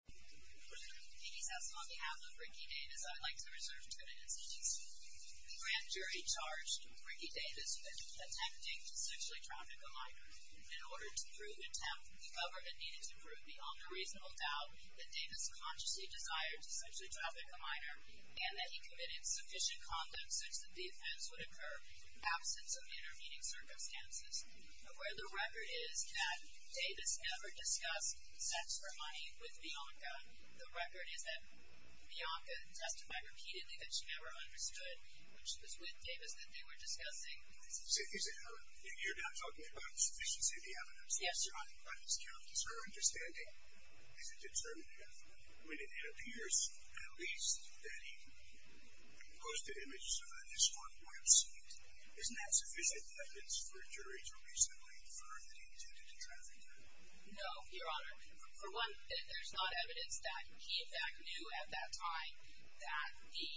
The grand jury charged Ricky Davis with attempting to sexually traffic a minor. In order to prove and attempt, the government needed to prove beyond a reasonable doubt that Davis consciously desired to sexually traffic a minor and that he committed sufficient conduct such that the offense would occur in the absence of intervening circumstances. Where the record is that Davis never discussed sex for money with Bianca, the record is that Bianca testified repeatedly that she never understood, which was with Davis that they were discussing. So you're not talking about the sufficiency of the evidence? Yes, Your Honor. But does her understanding, is it determined when it appears at least that he posted images on a distorted website? Isn't that sufficient evidence for a jury to reasonably infer that he attempted to traffic her? No, Your Honor. For one, there's not evidence that he in fact knew at that time that the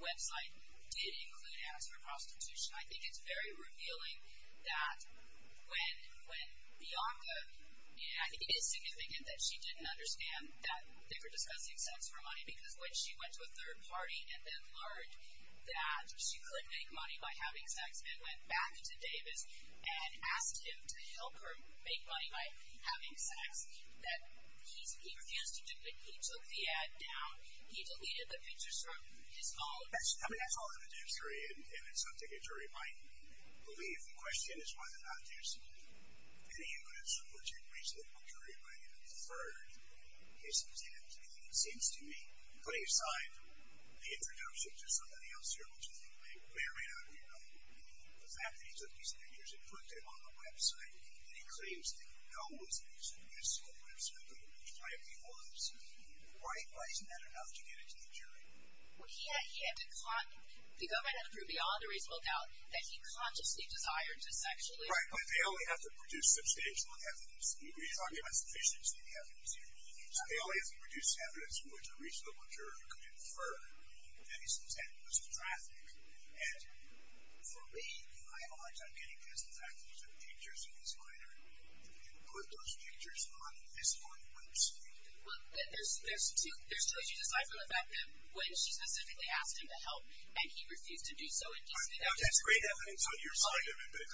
website did include ads for prostitution. I think it's very revealing that when Bianca, I think it is significant that she didn't understand that they were discussing sex for money because when she went to a third party and then learned that she couldn't make money by having sex and went back to Davis and asked him to help her make money by having sex, that he refused to do it. He took the ad down. He deleted the pictures from his phone. I mean, that's all in a jury, and it's something a jury might believe. The question is whether or not there's any evidence which would reasonable jury might have deferred his attempt. I mean, it seems to me, putting aside the introduction to somebody else here, which I think may or may not have been him, the fact that he took these images and put them on the website and he claims that he knew it was a mystical website that he was trying to use, why isn't that enough to get it to the jury? Well, he had to, the government had to prove beyond a reasonable doubt that he consciously desired to sexually assault her. Right, but they only have to produce substantial evidence. We're talking about sufficient evidence here. So they only have to produce evidence which a reasonable jury could infer that he's content with his traffic. And for me, I have a hard time getting just the fact that he took pictures of his partner and put those pictures on this one website. Well, there's two issues aside from the fact that when she specifically asked him to help and he refused to do so. That's great evidence on your side of it, but it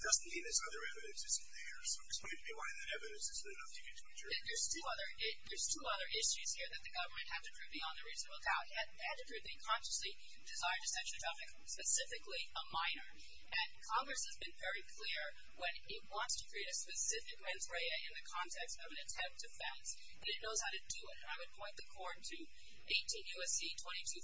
doesn't mean this other evidence isn't there. So explain to me why that evidence isn't enough to get to a jury. There's two other issues here that the government had to prove beyond a reasonable doubt. They had to prove that he consciously desired to sexually assault a woman, specifically a minor. And Congress has been very clear when it wants to create a specific rens rea in the context of an attempt to fence, that it knows how to do it. And I would point the court to 18 U.S.C.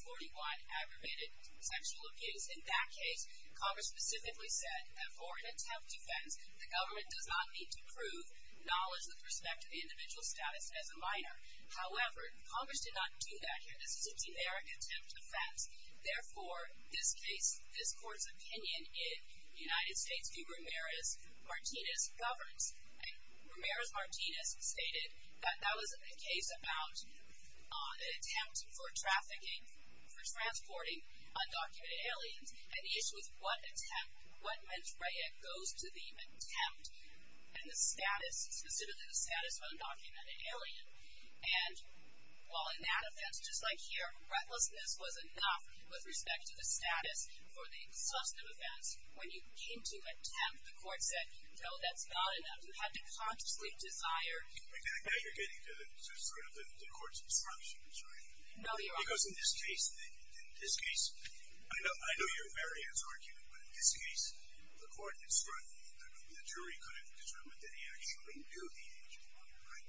2241, aggravated sexual abuse. In that case, Congress specifically said that for an attempt to fence, the government does not need to prove knowledge with respect to the individual status as a minor. However, Congress did not do that here. This is a generic attempt to fence. Therefore, this case, this court's opinion in the United States v. Ramirez-Martinez governs. Ramirez-Martinez stated that that was a case about an attempt for trafficking, for transporting undocumented aliens. And the issue is what attempt, what rens rea goes to the attempt and the status, specifically the status of an undocumented alien. And while in that offense, just like here, recklessness was enough with respect to the status for the exhaustive offense, when you came to attempt, the court said, no, that's not enough. You had to consciously desire. Now you're getting to sort of the court's instructions, right? No, you're wrong. Because in this case, in this case, I know you're very interested in this argument, but in this case, the court had struck, the jury couldn't determine that he actually knew the agent on the right.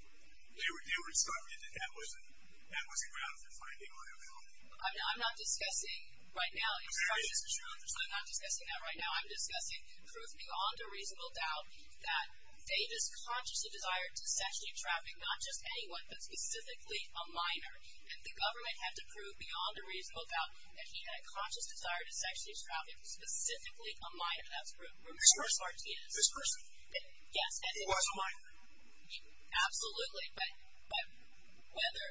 They were insulted that that was a ground for finding liability. I'm not discussing right now. It started as truth, so I'm not discussing that right now. I'm discussing truth beyond a reasonable doubt that Davis consciously desired to sexually traffic not just anyone, but specifically a minor. And the government had to prove beyond a reasonable doubt that he had a conscious desire to sexually traffic specifically a minor. That's Ramirez-Martinez. This person? Yes. It was a minor? Absolutely. But whether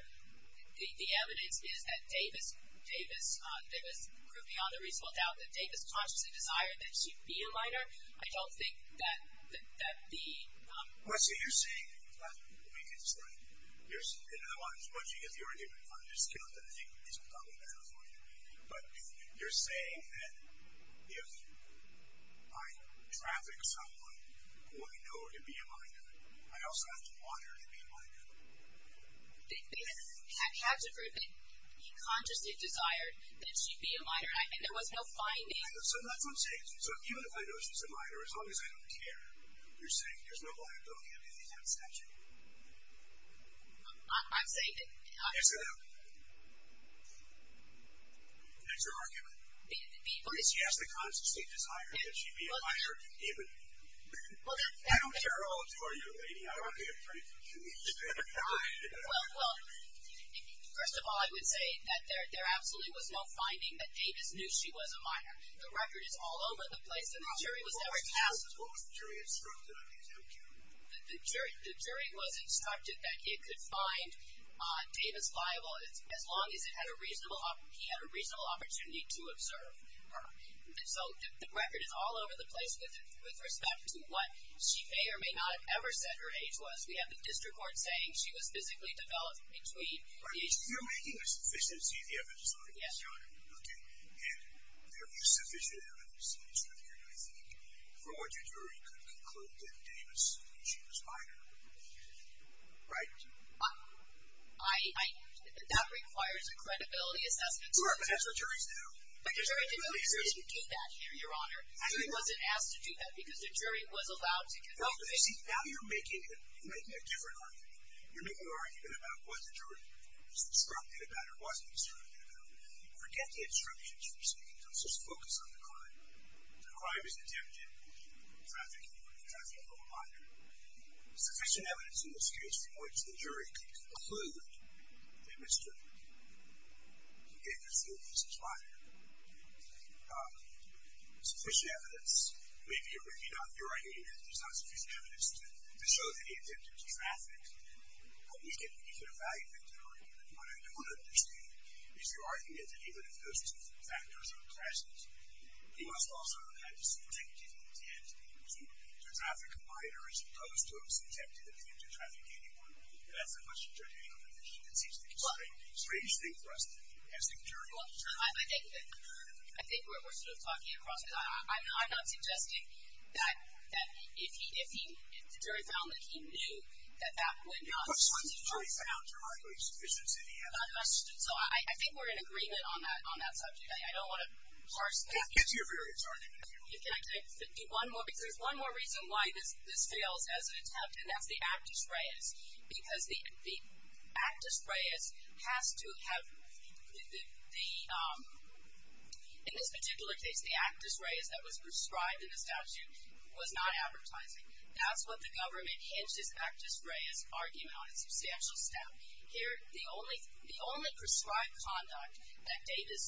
the evidence is that Davis proved beyond a reasonable doubt that Davis consciously desired that he be a minor, I don't think that the... Well, let's say you're saying, let me get this right, you're, in other words, once you get the argument, I'm just going to have to take reasonable doubt that that is a minor. But you're saying that if I traffic someone who I know to be a minor, I also have to want her to be a minor. Davis had to prove that he consciously desired that she be a minor, and I mean there was no finding. So that's what I'm saying. So even if I know she's a minor, as long as I don't care, you're saying there's no liability on any of these abstentions. I'm saying that... Yes, I know. That's your argument. But it's... Yes, the conscious state desire that she be a minor, even... I don't care how old you are, you lady. I don't want to be afraid to kill you. Well, first of all, I would say that there absolutely was no finding that Davis knew she was a minor. The record is all over the place and the jury was never... What was the jury instructed on the exam, Kim? The jury was instructed that it could find Davis liable as long as he had a reasonable opportunity to observe her. So the record is all over the place with respect to what she may or may not have ever said her age was. We have the district court saying she was physically developed between the age... You're making a sufficiency of the evidence, Your Honor. Yes, Your Honor. Okay. And there is sufficient evidence in the district court, I think, for what your jury could conclude that Davis knew she was minor. Right? I... That requires a credibility assessment. Sure, but that's what juries do. But the jury didn't do that, Your Honor. The jury wasn't asked to do that because the jury was allowed to... Now you're making a different argument. You're making an argument about what the jury was instructed about or wasn't instructed about. Forget the instructions, for a second. Just focus on the crime. The crime is attempted. Trafficking. Trafficking of a minor. Sufficient evidence in this case from which the jury could conclude that Mr. Davis knew he was a minor. Sufficient evidence. Maybe you're right. There's not sufficient evidence to show that he attempted to traffic. You can evaluate that, Your Honor. But what I don't understand is your argument that even if those two factors are present, he must also have had a subjective intent to traffic a minor as opposed to a subjective intent to traffic anyone. That's a much more general condition. It seems like a strange thing for us to do. Well, I think we're sort of talking across the line. I'm not suggesting that if the jury found that he knew that that would not be sufficient evidence. But once the jury found there wasn't sufficient evidence. So I think we're in agreement on that subject. I don't want to parse that. It's your verdict, Your Honor. Can I do one more? Because there's one more reason why this fails as an attempt, and that's the actus reus. Because the actus reus has to have the, in this particular case, the actus reus that was prescribed in the statute was not advertising. That's what the government hinges actus reus argument on a substantial step. Here, the only prescribed conduct that Davis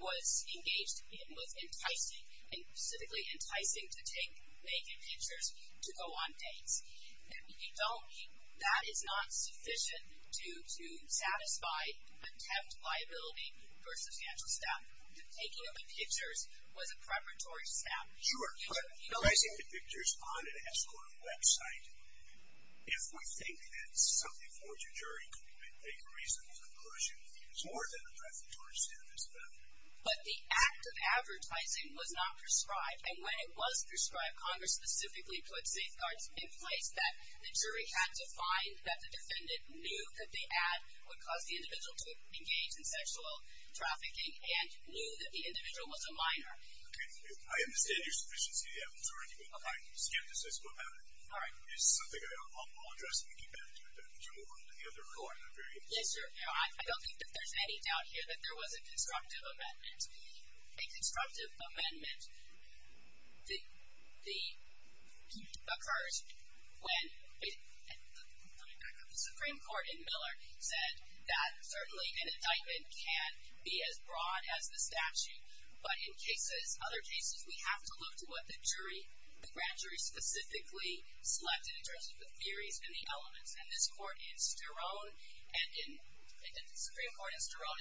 was engaged in was enticing, and specifically enticing to take naked pictures to go on dates. That is not sufficient to satisfy the contempt liability for a substantial step. The taking of the pictures was a preparatory step. Sure. But enticing to pictures on an escort website, if we think that something forced your jury to make a reasonable conclusion, is more than a preparatory step, is it not? But the act of advertising was not prescribed. And when it was prescribed, Congress specifically put safeguards in place that the jury had to find that the defendant knew that the act would cause the individual to engage in sexual trafficking and knew that the individual was a minor. Okay. I understand your sufficiency to have an authority, but my skepticism about it is something I'll address when we get back to it, but would you move on to the other court? Yes, Your Honor. I don't think that there's any doubt here that there was a constructive amendment. A constructive amendment occurred when the Supreme Court in Miller said that certainly an indictment can be as broad as the statute, but in cases, other cases, we have to look to what the jury, the grand jury specifically selected in terms of the theories and the elements. And the Supreme Court in Sterone and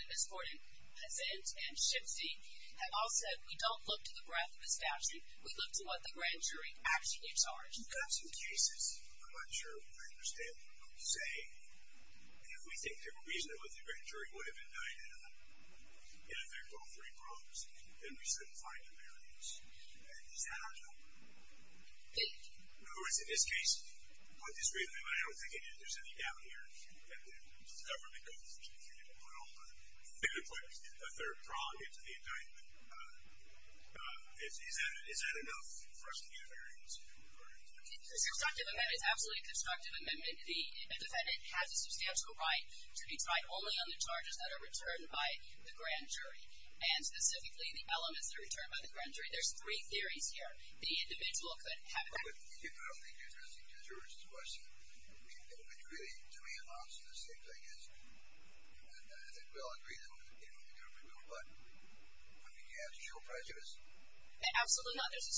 the Supreme Court in Hesed and Shipsy have all said we don't look to the breadth of the statute, we look to what the grand jury actually charged. You've got some cases, I'm not sure I understand what you're saying, and if we think they're reasonable, the grand jury would have indicted them in effect on three probes, then we shouldn't find a variance. Does that not help? In other words, in this case, I don't think there's any doubt here that the government goes through and put a third prong into the indictment. Is that enough for us to get a variance? A constructive amendment is absolutely a constructive amendment. The defendant has a substantial right to be tried only on the charges that are returned by the grand jury, and specifically the elements that are returned by the grand jury. There's three theories here. The individual could have an impact. But I don't think you're addressing the jurors' questions. They would agree to me and answer the same thing, I guess. And I think we all agree that it would be a real but. I mean, do you have to show prejudice? Absolutely not. There's a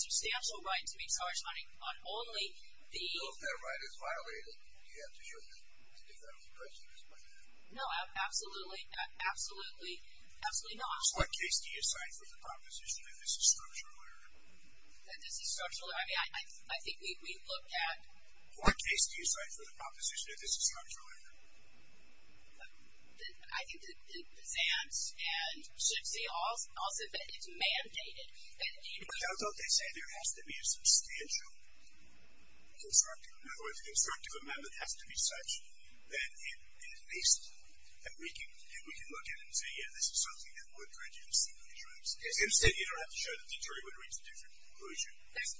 substantial right to be charged on only the... So if that right is violated, do you have to show the defendant prejudice by that? No, absolutely not. So what case do you assign for the proposition that this is structural error? That this is structural error? I mean, I think we've looked at... What case do you assign for the proposition that this is structural error? I think that it presents and should say also that it's mandated. But how about they say there has to be a substantial constructive? In other words, a constructive amendment has to be such that at least we can look at it and say, yeah, this is something that would prejudice the jury. Instead, you don't have to show that the jury would reach a different conclusion.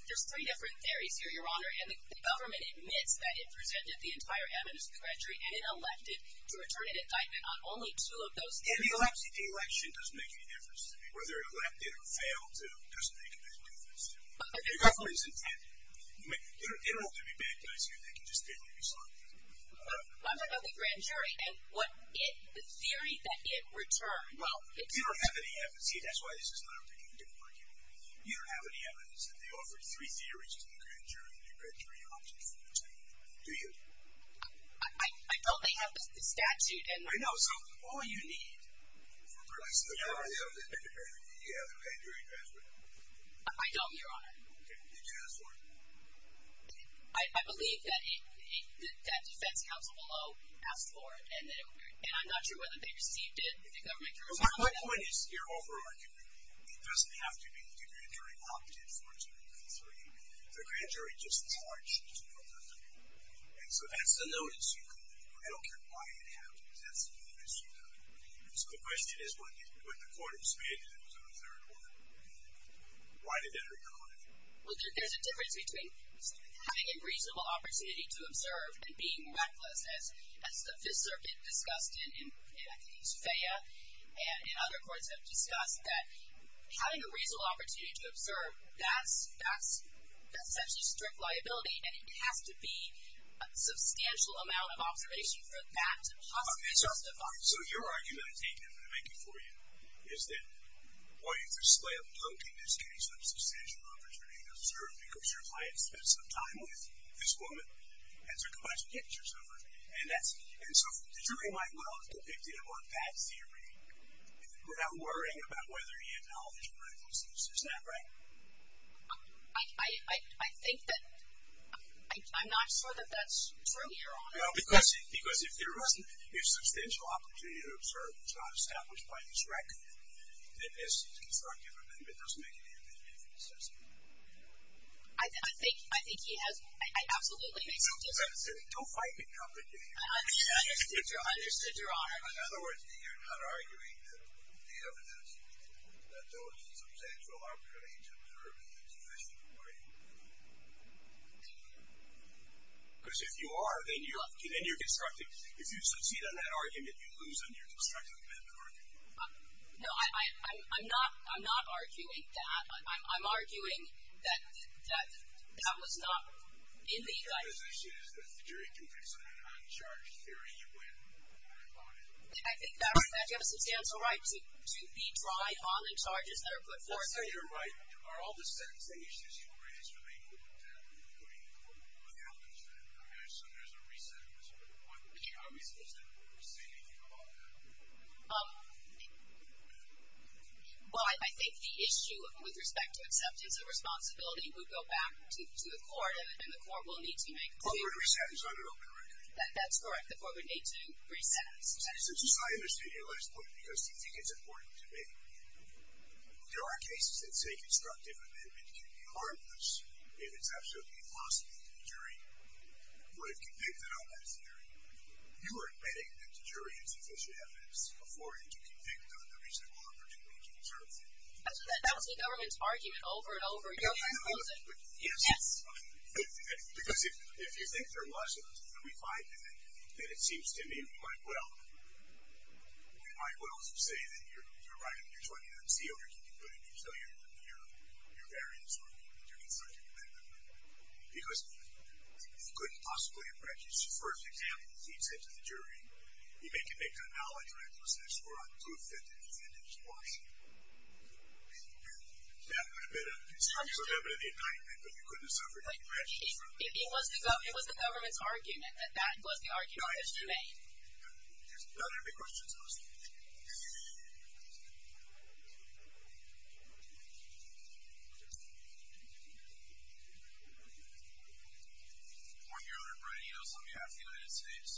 There's three different theories here, Your Honor, and the government admits that it presented the entire evidence to the grand jury and it elected to return an indictment on only two of those theories. And the election doesn't make any difference to me. Whether it elected or failed to doesn't make a big difference to me. The government is intended. There don't have to be bad guys here. They can just be the result of it. I'm talking about the grand jury and the theory that it returned. Well, you don't have any evidence. See, that's why this is not a particular case. You don't have any evidence that they offered three theories to the grand jury and the grand jury opted for the two. Do you? I don't. They have the statute. I know. So all you need for presenting the case is the grand jury. Do you have the grand jury address with you? I don't, Your Honor. Okay. Did you ask for it? I believe that defense counsel below asked for it. And I'm not sure whether they received it. My point is, you're over-arguing. It doesn't have to be that the grand jury opted for two of the three. The grand jury just charged two of them. And so that's the notice you got. I don't care why it happened. That's the notice you got. So the question is, when the court expanded it to a third order, why did it recall it? Well, there's a difference between having a reasonable opportunity to observe and being reckless, as the Fifth Circuit discussed, and at least FAA and other courts have discussed, that having a reasonable opportunity to observe, that's essentially strict liability, and it has to be a substantial amount of observation for that to possibly justify it. So your argument, I take it, and I make it for you, is that while you display a potent, in this case, substantial opportunity to observe because your client spent some time with this woman and took a bunch of pictures of her, and so the jury might well have depicted him on that theory without worrying about whether he acknowledged recklessness. Is that right? I think that – I'm not sure that that's true, Your Honor. Well, because if there wasn't a substantial opportunity to observe, it's not established by this record, it is constructive and it doesn't make any of it any more sensible. I think he has – it absolutely makes sense. Don't fight me, complicated. I understood, Your Honor. In other words, you're not arguing that the evidence, that there was a substantial opportunity to observe in a sufficient way. Because if you are, then you're constructive. If you succeed on that argument, you lose on your constructive argument. No, I'm not arguing that. I'm arguing that that was not in the – Your position is that the jury can fix an uncharged theory when they're involved in it. I think that you have a substantial right to be tried on the charges that are put forth. Let's say you're right. Are all the sentencing issues you raised related to putting the woman without understanding of her, so there's a re-sentence. Would you argue it's reasonable to say anything about that? Well, I think the issue with respect to acceptance of responsibility would go back to the court and the court will need to make a decision. The court would re-sentence on an open record. That's correct. The court would need to re-sentence. I understand your last point because you think it's important to me. There are cases that say constructive amendment can be harmless if it's absolutely impossible for the jury to convict an uncharged theory. You are admitting that the jury has sufficient evidence for it to convict a reasonable uncharged theory. That was the government's argument over and over again. Yes. Yes. Because if you think there wasn't and we find anything, then it seems to me we might well say that you're right. You're joining the NCO. Can you put in your variance or your constructive amendment? Because you couldn't possibly have breached the first example that he'd sent to the jury. You make an analogy, right? It was an escort on proof that the defendant was watching. That would have been a constructive amendment in the indictment, but you couldn't have suffered any breaches from it. It was the government's argument that that was the argument that he made. Are there any questions? On behalf of the United States,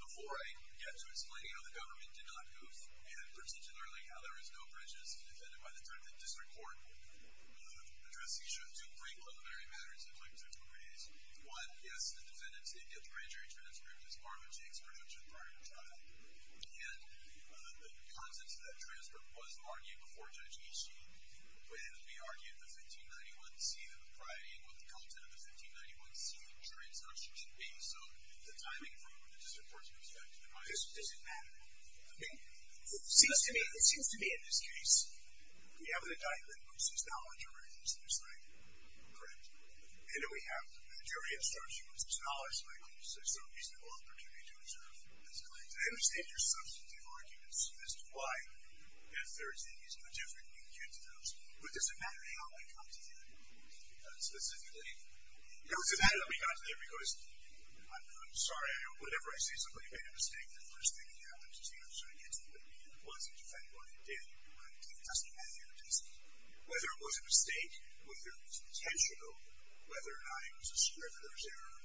before I get to explaining how the government did not move and particularly how there was no breaches, the defendant by the time the district court addressed these two preliminary matters, I'd like to raise one. Yes, the defendant did get the grand jury transcript as part of Jake's production prior to trial. And the contents of that transcript was argued before Judge Easton when we argued the 1591C that was priority and what the content of the 1591C transcription should be. So the timing from the district court's perspective. Does it matter? It seems to me in this case, we have an indictment which says now the jury has decided. Correct. And then we have the jury asserts it was acknowledged by a court so it's a reasonable opportunity to observe this claim. I understand your substantive arguments as to why that third thing is no different than you can get to those. But does it matter how it got to the indictment? Because specifically, how does it matter that it got to the indictment? Because I'm sorry, whenever I see somebody make a mistake, the first thing that happens is, you know, so I get to the point where the defendant wasn't defending what they did, but it doesn't matter. Whether it was a mistake, whether it was intentional, whether or not it was a scrivener's error,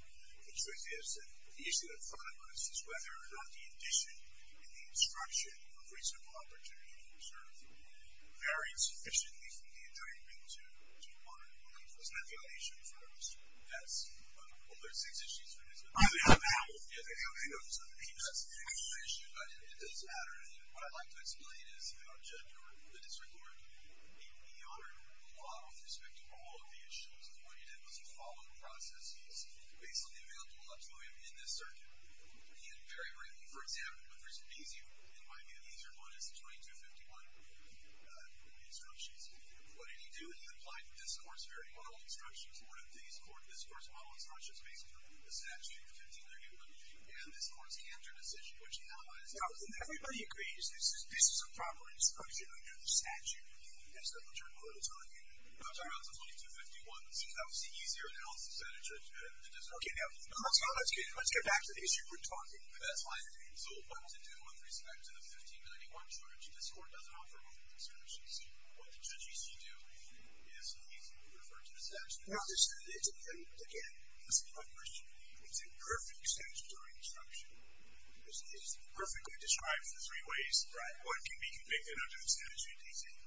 the truth is that the issue that I'm talking about is whether or not the addition and the obstruction of reasonable opportunity to observe varied sufficiently from the indictment to modern law. Isn't that the only issue in front of us? That's one of the six issues. I mean, how does it matter? I mean, how does it matter? I mean, that's the issue. It does matter. What I'd like to explain is Judge, or the District Court, he honored the law with respect to all of the issues. And what he did was he followed the processes basically available to him in this circuit. And very rarely, for example, the reason it's easier, it might be an easier one, is the 2251 instructions. What did he do? He applied the discourse-varied-model instructions. One of the things, the discourse-varied-model is not just based on the statute. It's 1531. And this court's candidate decision, which now is... Everybody agrees this is a proper instruction under the statute. That's what the court is telling you. I'm talking about the 2251s. That was the easier analysis that a judge had in the district court. Okay. Now, let's get back to the issue we're talking about. That's fine. So what to do with respect to the 1591 trudge? This court doesn't offer all the instructions. What the judge used to do is he referred to the statute. Now, again, this is my question. It's a perfect statutory instruction. It's perfectly described in three ways. Right. What can be convicted under the statute, he said.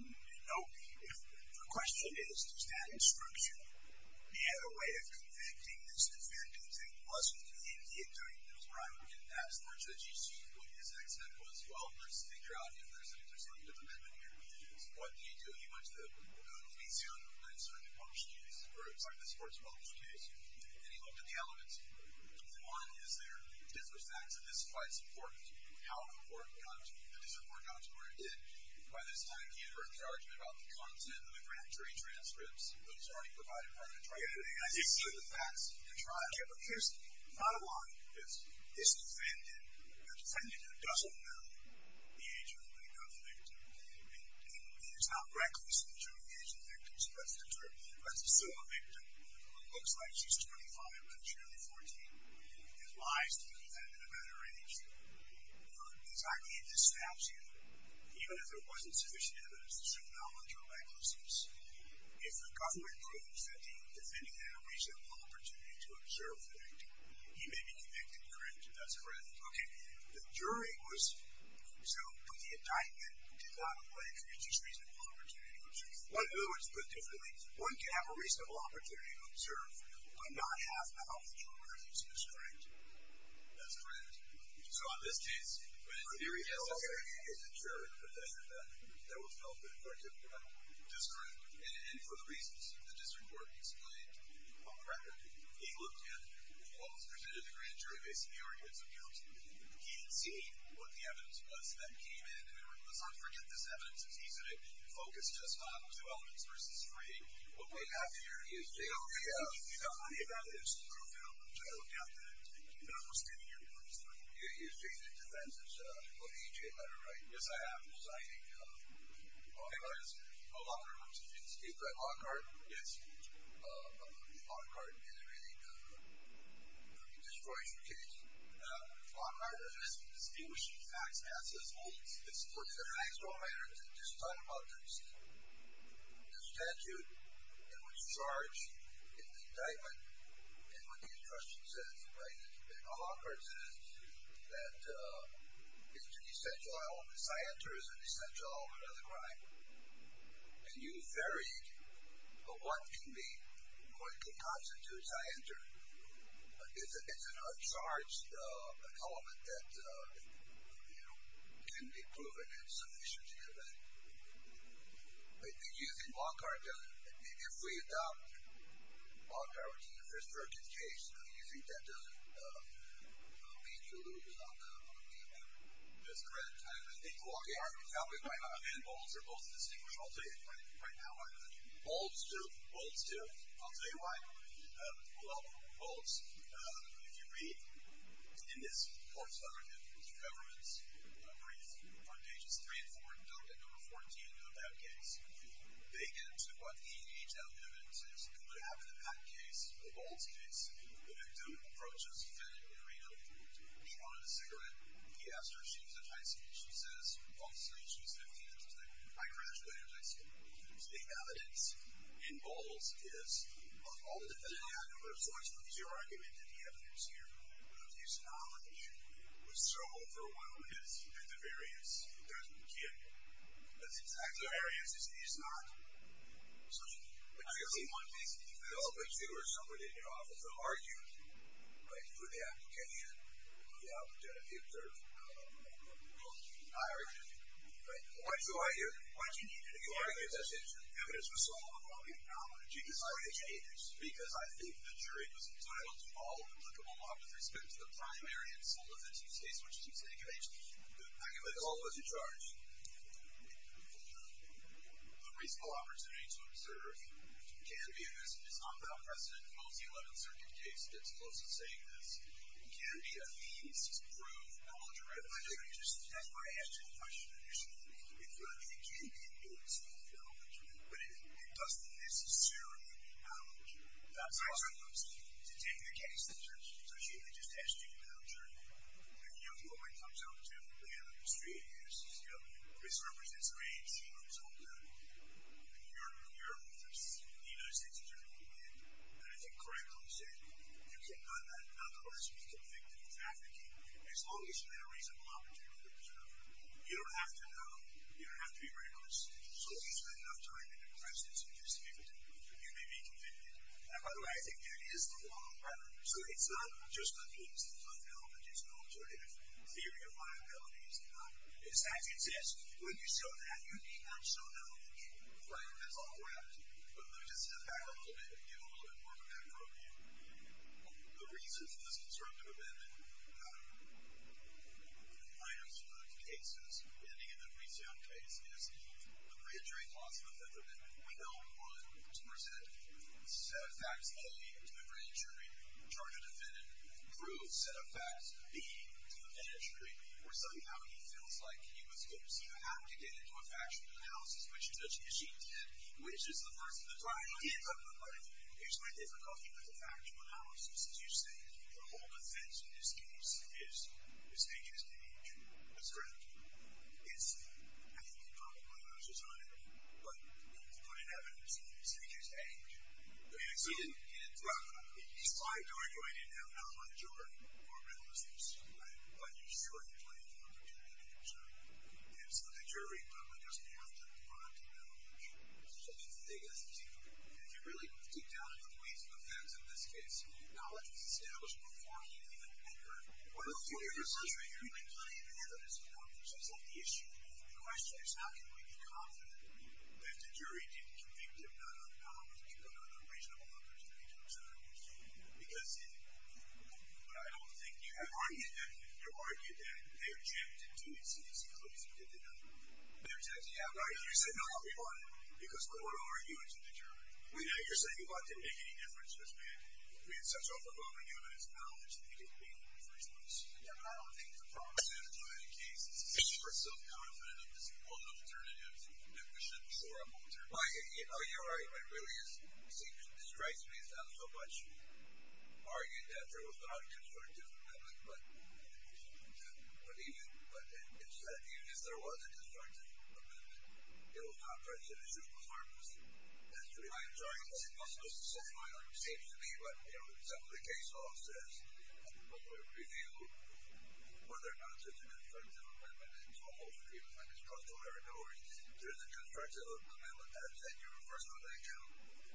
Nope. The question is, is that instruction the other way of convicting this defendant who wasn't in here during the trial? In that trudge, as you see, what his accent was, well, let's figure out if there's an intersective amendment here. Yes. What did he do? He went to the museum and started to publish cases, or the sports publisher case, and he looked at the elements. One, is there different facts of this fight supported? How important does it work out to where it did? By this time, he had heard the argument about the content in the grand jury transcripts that was already provided by the trial. I didn't see the facts in the trial. But here's the bottom line. This defendant, a defendant who doesn't know the age of the victim, and he's not recklessly showing the age of the victim, so that's still a victim. It looks like she's 25, but it's really 14. It's wise to do that at a better age. His idea disrupts you, even if there wasn't sufficient evidence to show knowledge or recklessness. If the government proves that the defendant had a reasonable opportunity to observe the victim, he may be convicted. Correct? That's correct. Okay. The jury was, so the indictment did not apply to his reasonable opportunity. But in other words, put differently, one can have a reasonable opportunity to observe but not have knowledge or recklessness. Correct? That's correct. So in this case, when the jury held that he was the juror, the defendant that was held in court did what? Discurrent. And for the reasons the district court explained on the record, he looked at what was presented in the grand jury based on the arguments of counsel. He didn't see what the evidence was that came in. Let's not forget this evidence. It's easy to focus just on two elements versus three. What we have here is J.J. Do you have any evidence to prove that? I don't have that. Thank you. No, we're still here. We're just looking. You're J.J. Defense's OHA letter, right? Yes, I have. Signing a law card. A law card. It's a law card. Yes. A law card. And it really destroys your case. A law card is a distinguishing facts. It's a fact of all matters. Just talk about this. The statute in which you charge, it's the indictment, and what the instruction says, right? A law card says that it's an essential element. Scienter is an essential element of the crime. And you vary what can constitute scienter. It's an uncharged element that can be proven insufficiently. But using a law card doesn't. If we adopt a law card in the first verdict case, do you think that doesn't lead to a little bit of a misdemeanor? That's correct. I think a law card is probably quite an option. And bolts are both distinguishing. I'll tell you right now why. Bolts do. Bolts do. I'll tell you why. Well, bolts, if you read in this court's document, which is the government's brief on pages 3 and 4, and don't get number 14 of that case, they get into what the HL evidence is. What happened in that case, the bolts case, the victim approaches a defendant in Reno. He wanted a cigarette. He asked her if she was in high school. I said, I graduated in high school. The evidence in bolts is of all the defendants. Yeah, I know. But it's your argument that the evidence here, the abuse of knowledge, was so overwhelming as active areas. It doesn't get. As active areas, it is not. But you're the one basically. No, but you or somebody in your office will argue for the application of the opportunity to observe high origin. Right? Why did you argue that the evidence was so overwhelming? How did you decide to change? Because I think the jury was entitled to all applicable law with respect to the primary and some of the two cases which you take advantage of. I can make all those in charge. The reasonable opportunity to observe is not without precedent. Most of the 11th Circuit case gets close to saying this. It can be a means to prove knowledge or evidence. That's why I asked you the question initially. It can be a means to prove knowledge. But it doesn't necessarily mean knowledge. That's what I'm saying. To take the case in charge. So shouldn't they just ask you to prove knowledge? And you know, the only way it comes out to the industry is, you know, Chris represents AMC. I'm so proud of you. You're the first in the United States Attorney to do that. And I think, correctly said, you can nonetheless be convicted of trafficking. As long as you have a reasonable opportunity to observe. You don't have to know. You don't have to be very honest. So if you spend enough time in the presidency just to be convicted, you may be convicted. And by the way, I think that is the law of gravity. So it's not just the case. It's not knowledge. It's an alternative theory of liability. It's not. In fact, it says, when you show that, you need not show knowledge. Right, that's all gravity. But let me just step back a little bit and give a little bit more of a background view. The reason for this conservative amendment, minor to no cases, ending in a resound case, is the grand jury clause of the Fifth Amendment. We know we want to present set of facts A to the grand jury, charge a defendant, prove set of facts B to the grand jury. Or somehow he feels like he was forced, he had to get into a factual analysis, which is such an issue. And which is the first thing that's going to come to mind. Here's my difficulty with the factual analysis. As you say, the whole defense in this case is stages to age. That's correct. I think he probably loses on it. But he's put in evidence in stages to age. He didn't decide to argue. I didn't have knowledge or a realistic assumption. But you're surely playing for opportunity. And so the jury probably doesn't have to respond to knowledge. I think that's the biggest issue. If you really dig down into the ways of events in this case, knowledge was established before he even entered. One of the things that you're really playing for is confidence. Is that the issue? The question is, how can we be confident that the jury didn't convict him, not on knowledge, but on a reasonable opportunity? Because I don't think you have argued that. You've argued that they are chipped into a series of clues and didn't know. They're chipped. Yeah, right. You said, no, we won. Because Cordova argued to the jury. Yeah, you're saying you thought it didn't make any difference because we had such overwhelming evidence of knowledge that he didn't win, for instance. Yeah, but I don't think the problem is that. In many cases, it's just we're so confident that there's all the alternatives. And we shouldn't shore up alternatives. You're right. that there was not a constructive argument. But even if there was, it doesn't mean that there wasn't a constructive amendment. It was not prejudicial. It was harmless. I'm sorry. It's impossible to say. I don't know what it seems to be. But some of the case law says that the public will be able to review whether or not there's a constructive amendment. And to a host of people, it's like it's crossed all their doors. If there's a constructive amendment, that's it. You're the first one to account.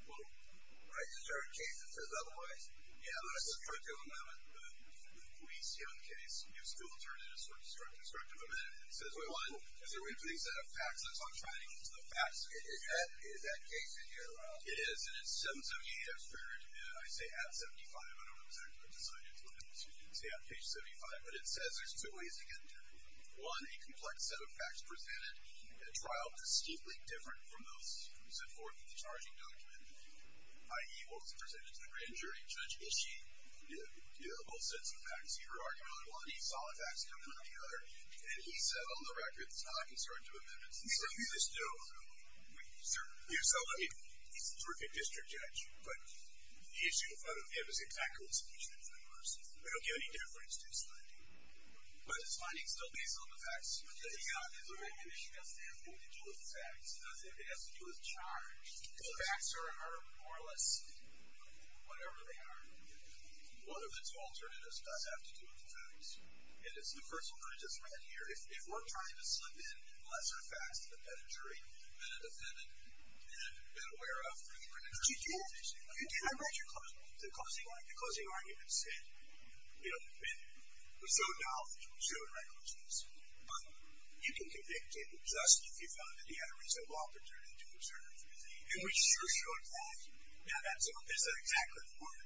Well, right. There's a certain case that says otherwise. Yeah, but a constructive amendment. The police, in one case, used two alternatives for a constructive amendment. One, is there a reasonable set of facts? That's what I'm trying to get to. The facts. Is that case in here? It is. And it's 778. I've squared it. And I say at 75. I don't know exactly what the signage looks like. Excuse me. Yeah, page 75. But it says there's two ways to get into it. One, a complex set of facts presented, a trial distinctly different from those who set forth the charging document, i.e., what was presented to the grand jury. Judge Ishii, you have both sets of facts here. He saw the facts coming out of the other. And he said, on the record, it's not a constructive amendment. So you just don't. We certainly don't. He's a terrific district judge. But the issue in front of him is exactly what's featured in front of us. We don't give any difference to his finding. But his finding's still based on the facts. Yeah. He doesn't have anything to do with facts. He doesn't have anything to do with charge. The facts are more or less whatever they are. One of its alternatives does have to do with the facts. And it's the first one I just read here. If we're trying to slip in lesser facts to the grand jury, you've been a defendant and been aware of the grand jury. You did. You did. I read your closing argument. The closing argument said, you know, the defendant was so doubtful, so reckless, but you can convict him just if you found that he had a reasonable opportunity to exert himself. And we sure showed that. Yeah. And so is that exactly the point?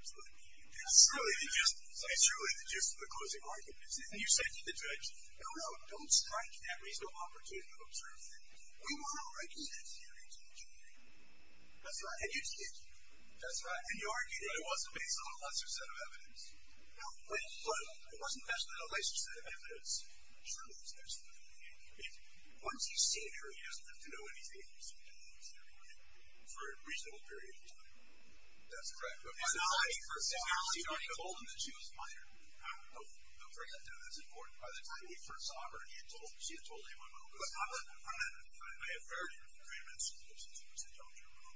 It's really the gist. It's really the gist of the closing argument. And you said to the judge, no, no, don't strike that reasonable opportunity to observe things. We want to recognize he had a reasonable opportunity. That's right. And you did. That's right. And you argued that it wasn't based on a lesser set of evidence. No. But it wasn't based on a lesser set of evidence. It truly is a lesser set of evidence. Once you've seen her, you don't have to know anything for a reasonable period of time. That's correct. But by the time he first saw her, she had already told him that she was a minor. Don't forget that. That's important. By the time he first saw her, he had told her. She had told him on her own. But I have heard great amounts of clips and tapes that tell the truth about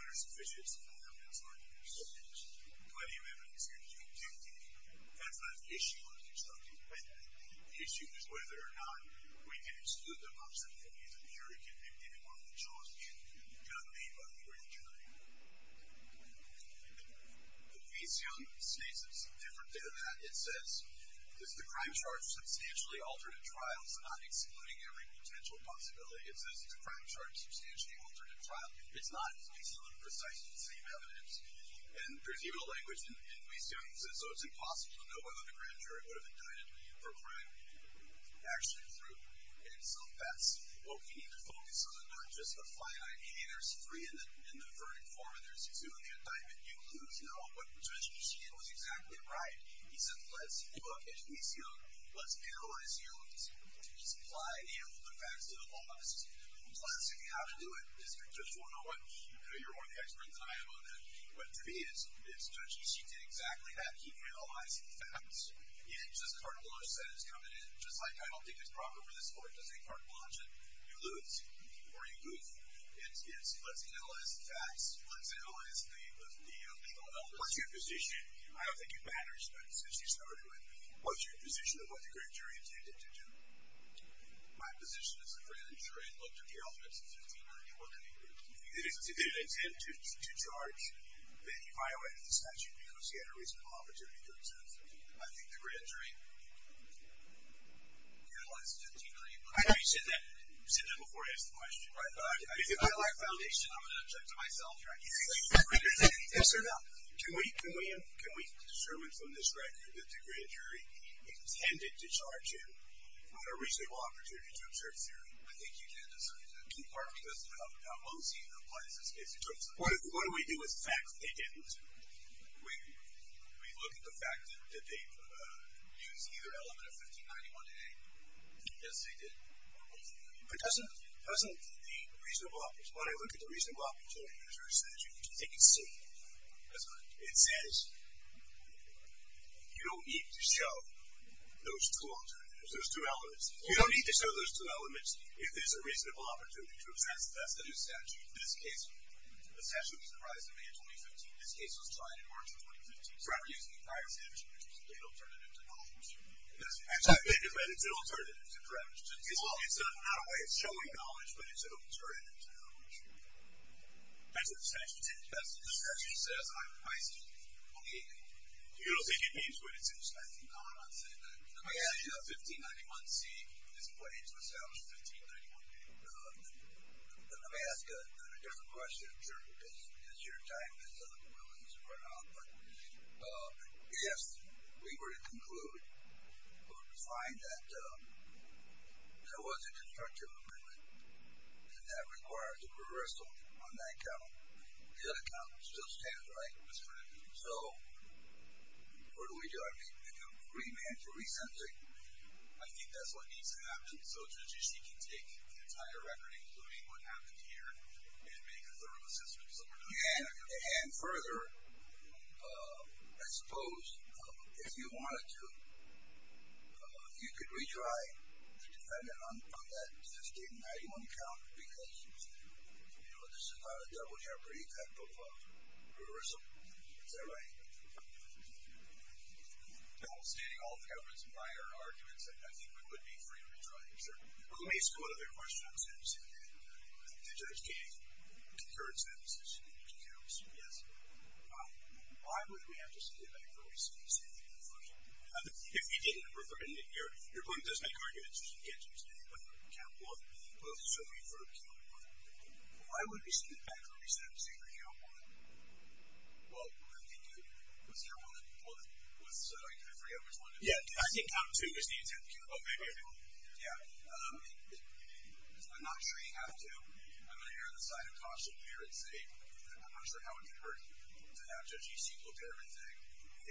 minors and bishops and non-minors lawyers. Plenty of evidence here. You can't deny that. That's not an issue on the constructive side. The issue is whether or not we can exclude them from the jury committee. We want the choice in the gun made by the grand jury. But Weisjohn states it's a different thing than that. It says, this is a crime charge substantially altered at trial, so not excluding every potential possibility. It says it's a crime charge substantially altered at trial. It's not. It's based on precisely the same evidence. And there's even a language in Weisjohn that says, so it's impossible to know whether the grand jury would have indicted for a crime actually proved. And so that's what we need to focus on, not just the finite. Hey, there's three in the verdict form, and there's two in the indictment. You lose. No, what Judge Ducey did was exactly right. He said, let's look at Weisjohn. Let's analyze him. Let's apply the facts to the law. Let's see how to do it. Judge, you're more of the expert than I am on that. But to me, it's Judge Ducey did exactly that. He analyzed the facts. He didn't just cartelize that as coming in, just like I don't think it's proper for this court to say cartelize it. You lose. Or you goof. It's, let's analyze the facts. Let's analyze the legal elements. What's your position? I don't think it matters, Judge, since you started with me. What's your position of what the grand jury intended to do? My position is that the grand jury looked at the alphabets in 1594 and they didn't intend to charge Benioff and the statute because he had a reasonable opportunity to do so. I think the grand jury utilized 1594. I know you said that before I asked the question. Right. If I lack foundation, I'm going to object to myself. Yes, sir, no. Can we determine from this record that the grand jury intended to charge him with a reasonable opportunity to observe theory? I think you did. The department doesn't know how Mosey applies this case. What do we do with the facts that they didn't? We look at the fact that they used either element of 1591-A. Yes, they did. But doesn't the reasonable opportunity, when I look at the reasonable opportunity measure, it says you don't need to show those two elements. You don't need to show those two elements if there's a reasonable opportunity to assess the statute. In this case, the statute was in the rise of May of 2015. This case was tried in March of 2015. So we're using the prior statute as an alternative to knowledge. It's an alternative to knowledge. It's not a way of showing knowledge, but it's an alternative to knowledge. That's what the statute says. The statute says, I see. Okay. You don't think it means what it says. No, I'm not saying that. Let me ask you, 1591-C is put into establishment, 1591-B. Let me ask a different question, because your time has run out. Yes, we were to conclude, we were to find that there was a constructive amendment and that requires a reversal on that account. The other account still stands, right? So, what do we do? I mean, the agreement to resent it, I think that's what needs to happen so that she can take the entire record, including what happened here, and make a thorough assessment. And further, I suppose, if you wanted to, you could retry to defend it on that 1591 account because, you know, this is not a double jeopardy type of heurism. Is that right? Well, stating all the evidence and minor arguments, I think we would be free to retry. Sure. Let me ask one other question. I was going to say, the judge gave concurrence in that decision. Did you concur? Yes. Why would we have to send it back for a re-sentencing? If you didn't refer it, your point doesn't make arguments. You can't just say, let's look at the account for both, so we refer to 1591. Why would we send it back for a re-sentencing for 1591? Well, I think it was 1591 that was, I forget which one it was. Yeah, I think it was 1591. Oh, 1591. Yeah. I'm not sure you have to. I'm going to hear the side of caution here and say I'm not sure how it occurred to have Judge E. Siegel there and say it was 1591. I agree with how it would occur, but it seems to me when I look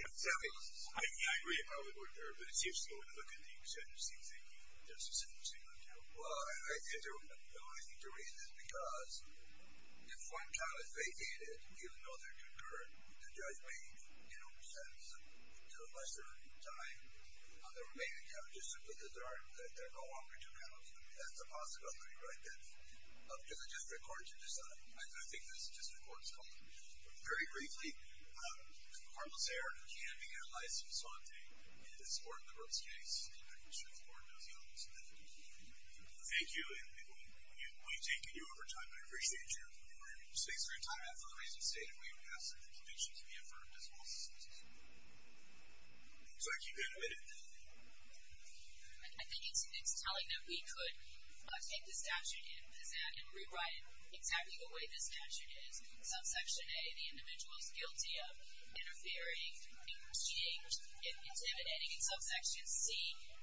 at the extension, it seems like he just assumed it was 1592. Well, I think the reason is because if one child is vacated, even though there is concurrence, the judge may, you know, do a lesser time on the remaining damages simply because they're no longer due counts. That's a possibility, right? Does the district court decide? I think the district court is calling. Very briefly, the court will say, are you handing in a license on this court, the Brooks case, and I'm not sure if the court knows the elements of that. Thank you, and we've taken you over time, and I appreciate your time. Thanks for your time, and for the reason stated, we would ask that the conditions be affirmed as well. Looks like you've got a minute. I think it's telling that we could take the statute and rewrite it exactly the way the statute is. Subsection A, the individual is guilty of interfering, impeding, intimidating, and subsection C,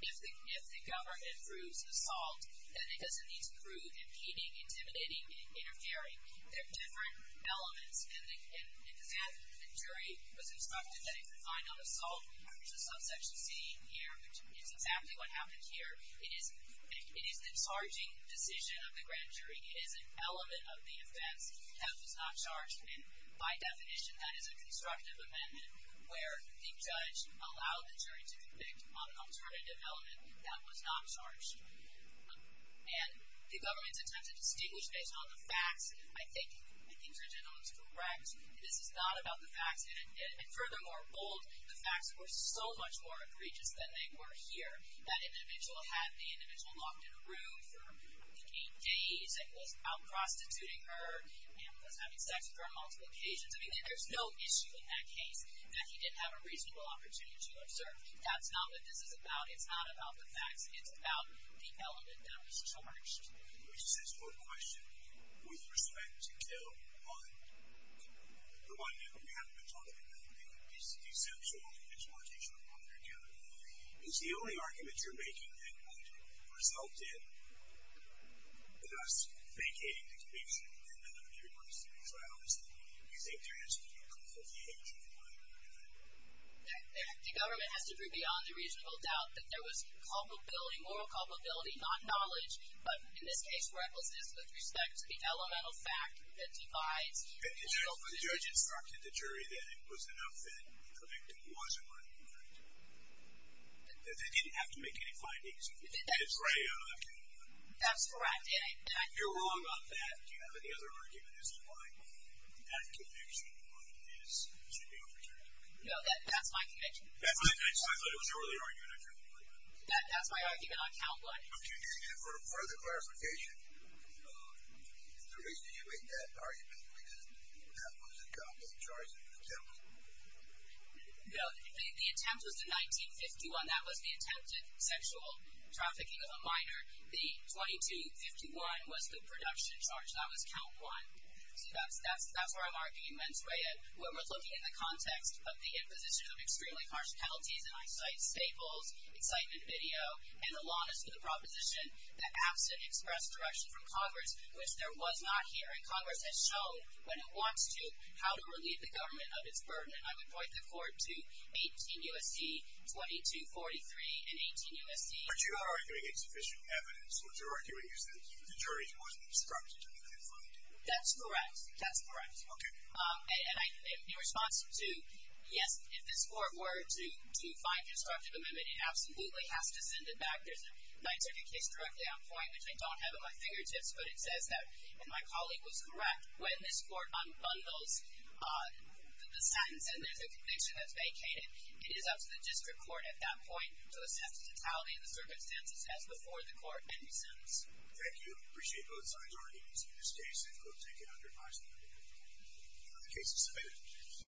if the government proves assault, then it doesn't need to prove impeding, intimidating, and interfering. They're different elements, and the jury was instructed that if they find on assault, which is subsection C here, which is exactly what happened here, it is the charging decision of the grand jury. It is an element of the offense that was not charged, and by definition, that is a constructive amendment where the judge allowed the jury to convict on an alternative element that was not charged. And the government's attempt to distinguish based on the facts I think, I think the gentleman's correct. This is not about the facts. And furthermore, bold, the facts were so much more egregious than they were here. That individual had the individual locked in a room for, I think, eight days and was out prostituting her and was having sex with her on multiple occasions. I mean, there's no issue in that case that he didn't have a reasonable opportunity to observe. That's not what this is about. It's not about the facts. It's about the element that was charged. Let me just ask one question. With respect to the one that we haven't been talking about, the deceptional individualization of property or capital, is the only argument you're making that would result in us vacating the commission and letting everybody stay? Because I honestly think there has to be a conflict of hatred in the government. The government has to prove beyond a reasonable doubt that there was culpability, not knowledge, but in this case, where I will say this, with respect to the elemental fact that divides the individual. The judge instructed the jury that it was enough that the convict wasn't worthy of conviction. That they didn't have to make any findings. That's right. You're wrong about that. Do you have any other argument as to why that conviction is to be overturned? No, that's my conviction. I thought it was your only argument. That's my argument on count one. Do you need it for further clarification? No. The reason you made that argument, because that was a conflict of charge and contempt. No. The attempt was the 1951. That was the attempted sexual trafficking of a minor. The 2251 was the production charge. That was count one. So that's where I'm arguing mens rea. When we're looking in the context of the imposition of extremely harsh penalties, and I cite staples, excitement video, and the longest of the proposition, that absent expressed direction from Congress, which there was not here. And Congress has shown when it wants to, how to relieve the government of its burden. And I would point the court to 18 U.S.C., 2243, and 18 U.S.C. But you are arguing insufficient evidence. What you're arguing is that the jury wasn't instructed to make any findings. That's correct. That's correct. Okay. And in response to, yes, if this court were to find constructive amendment, it absolutely has to send it back. There's a 930 case directly on point, which I don't have in my fingertips, but it says that, and my colleague was correct, when this court unbundles the sentence and there's a conviction that's vacated, it is up to the district court at that point to assess the totality of the circumstances as before the court and the sentence. Thank you. Appreciate both sides already. We've seen this case and we'll take it under advisement on the case submitted.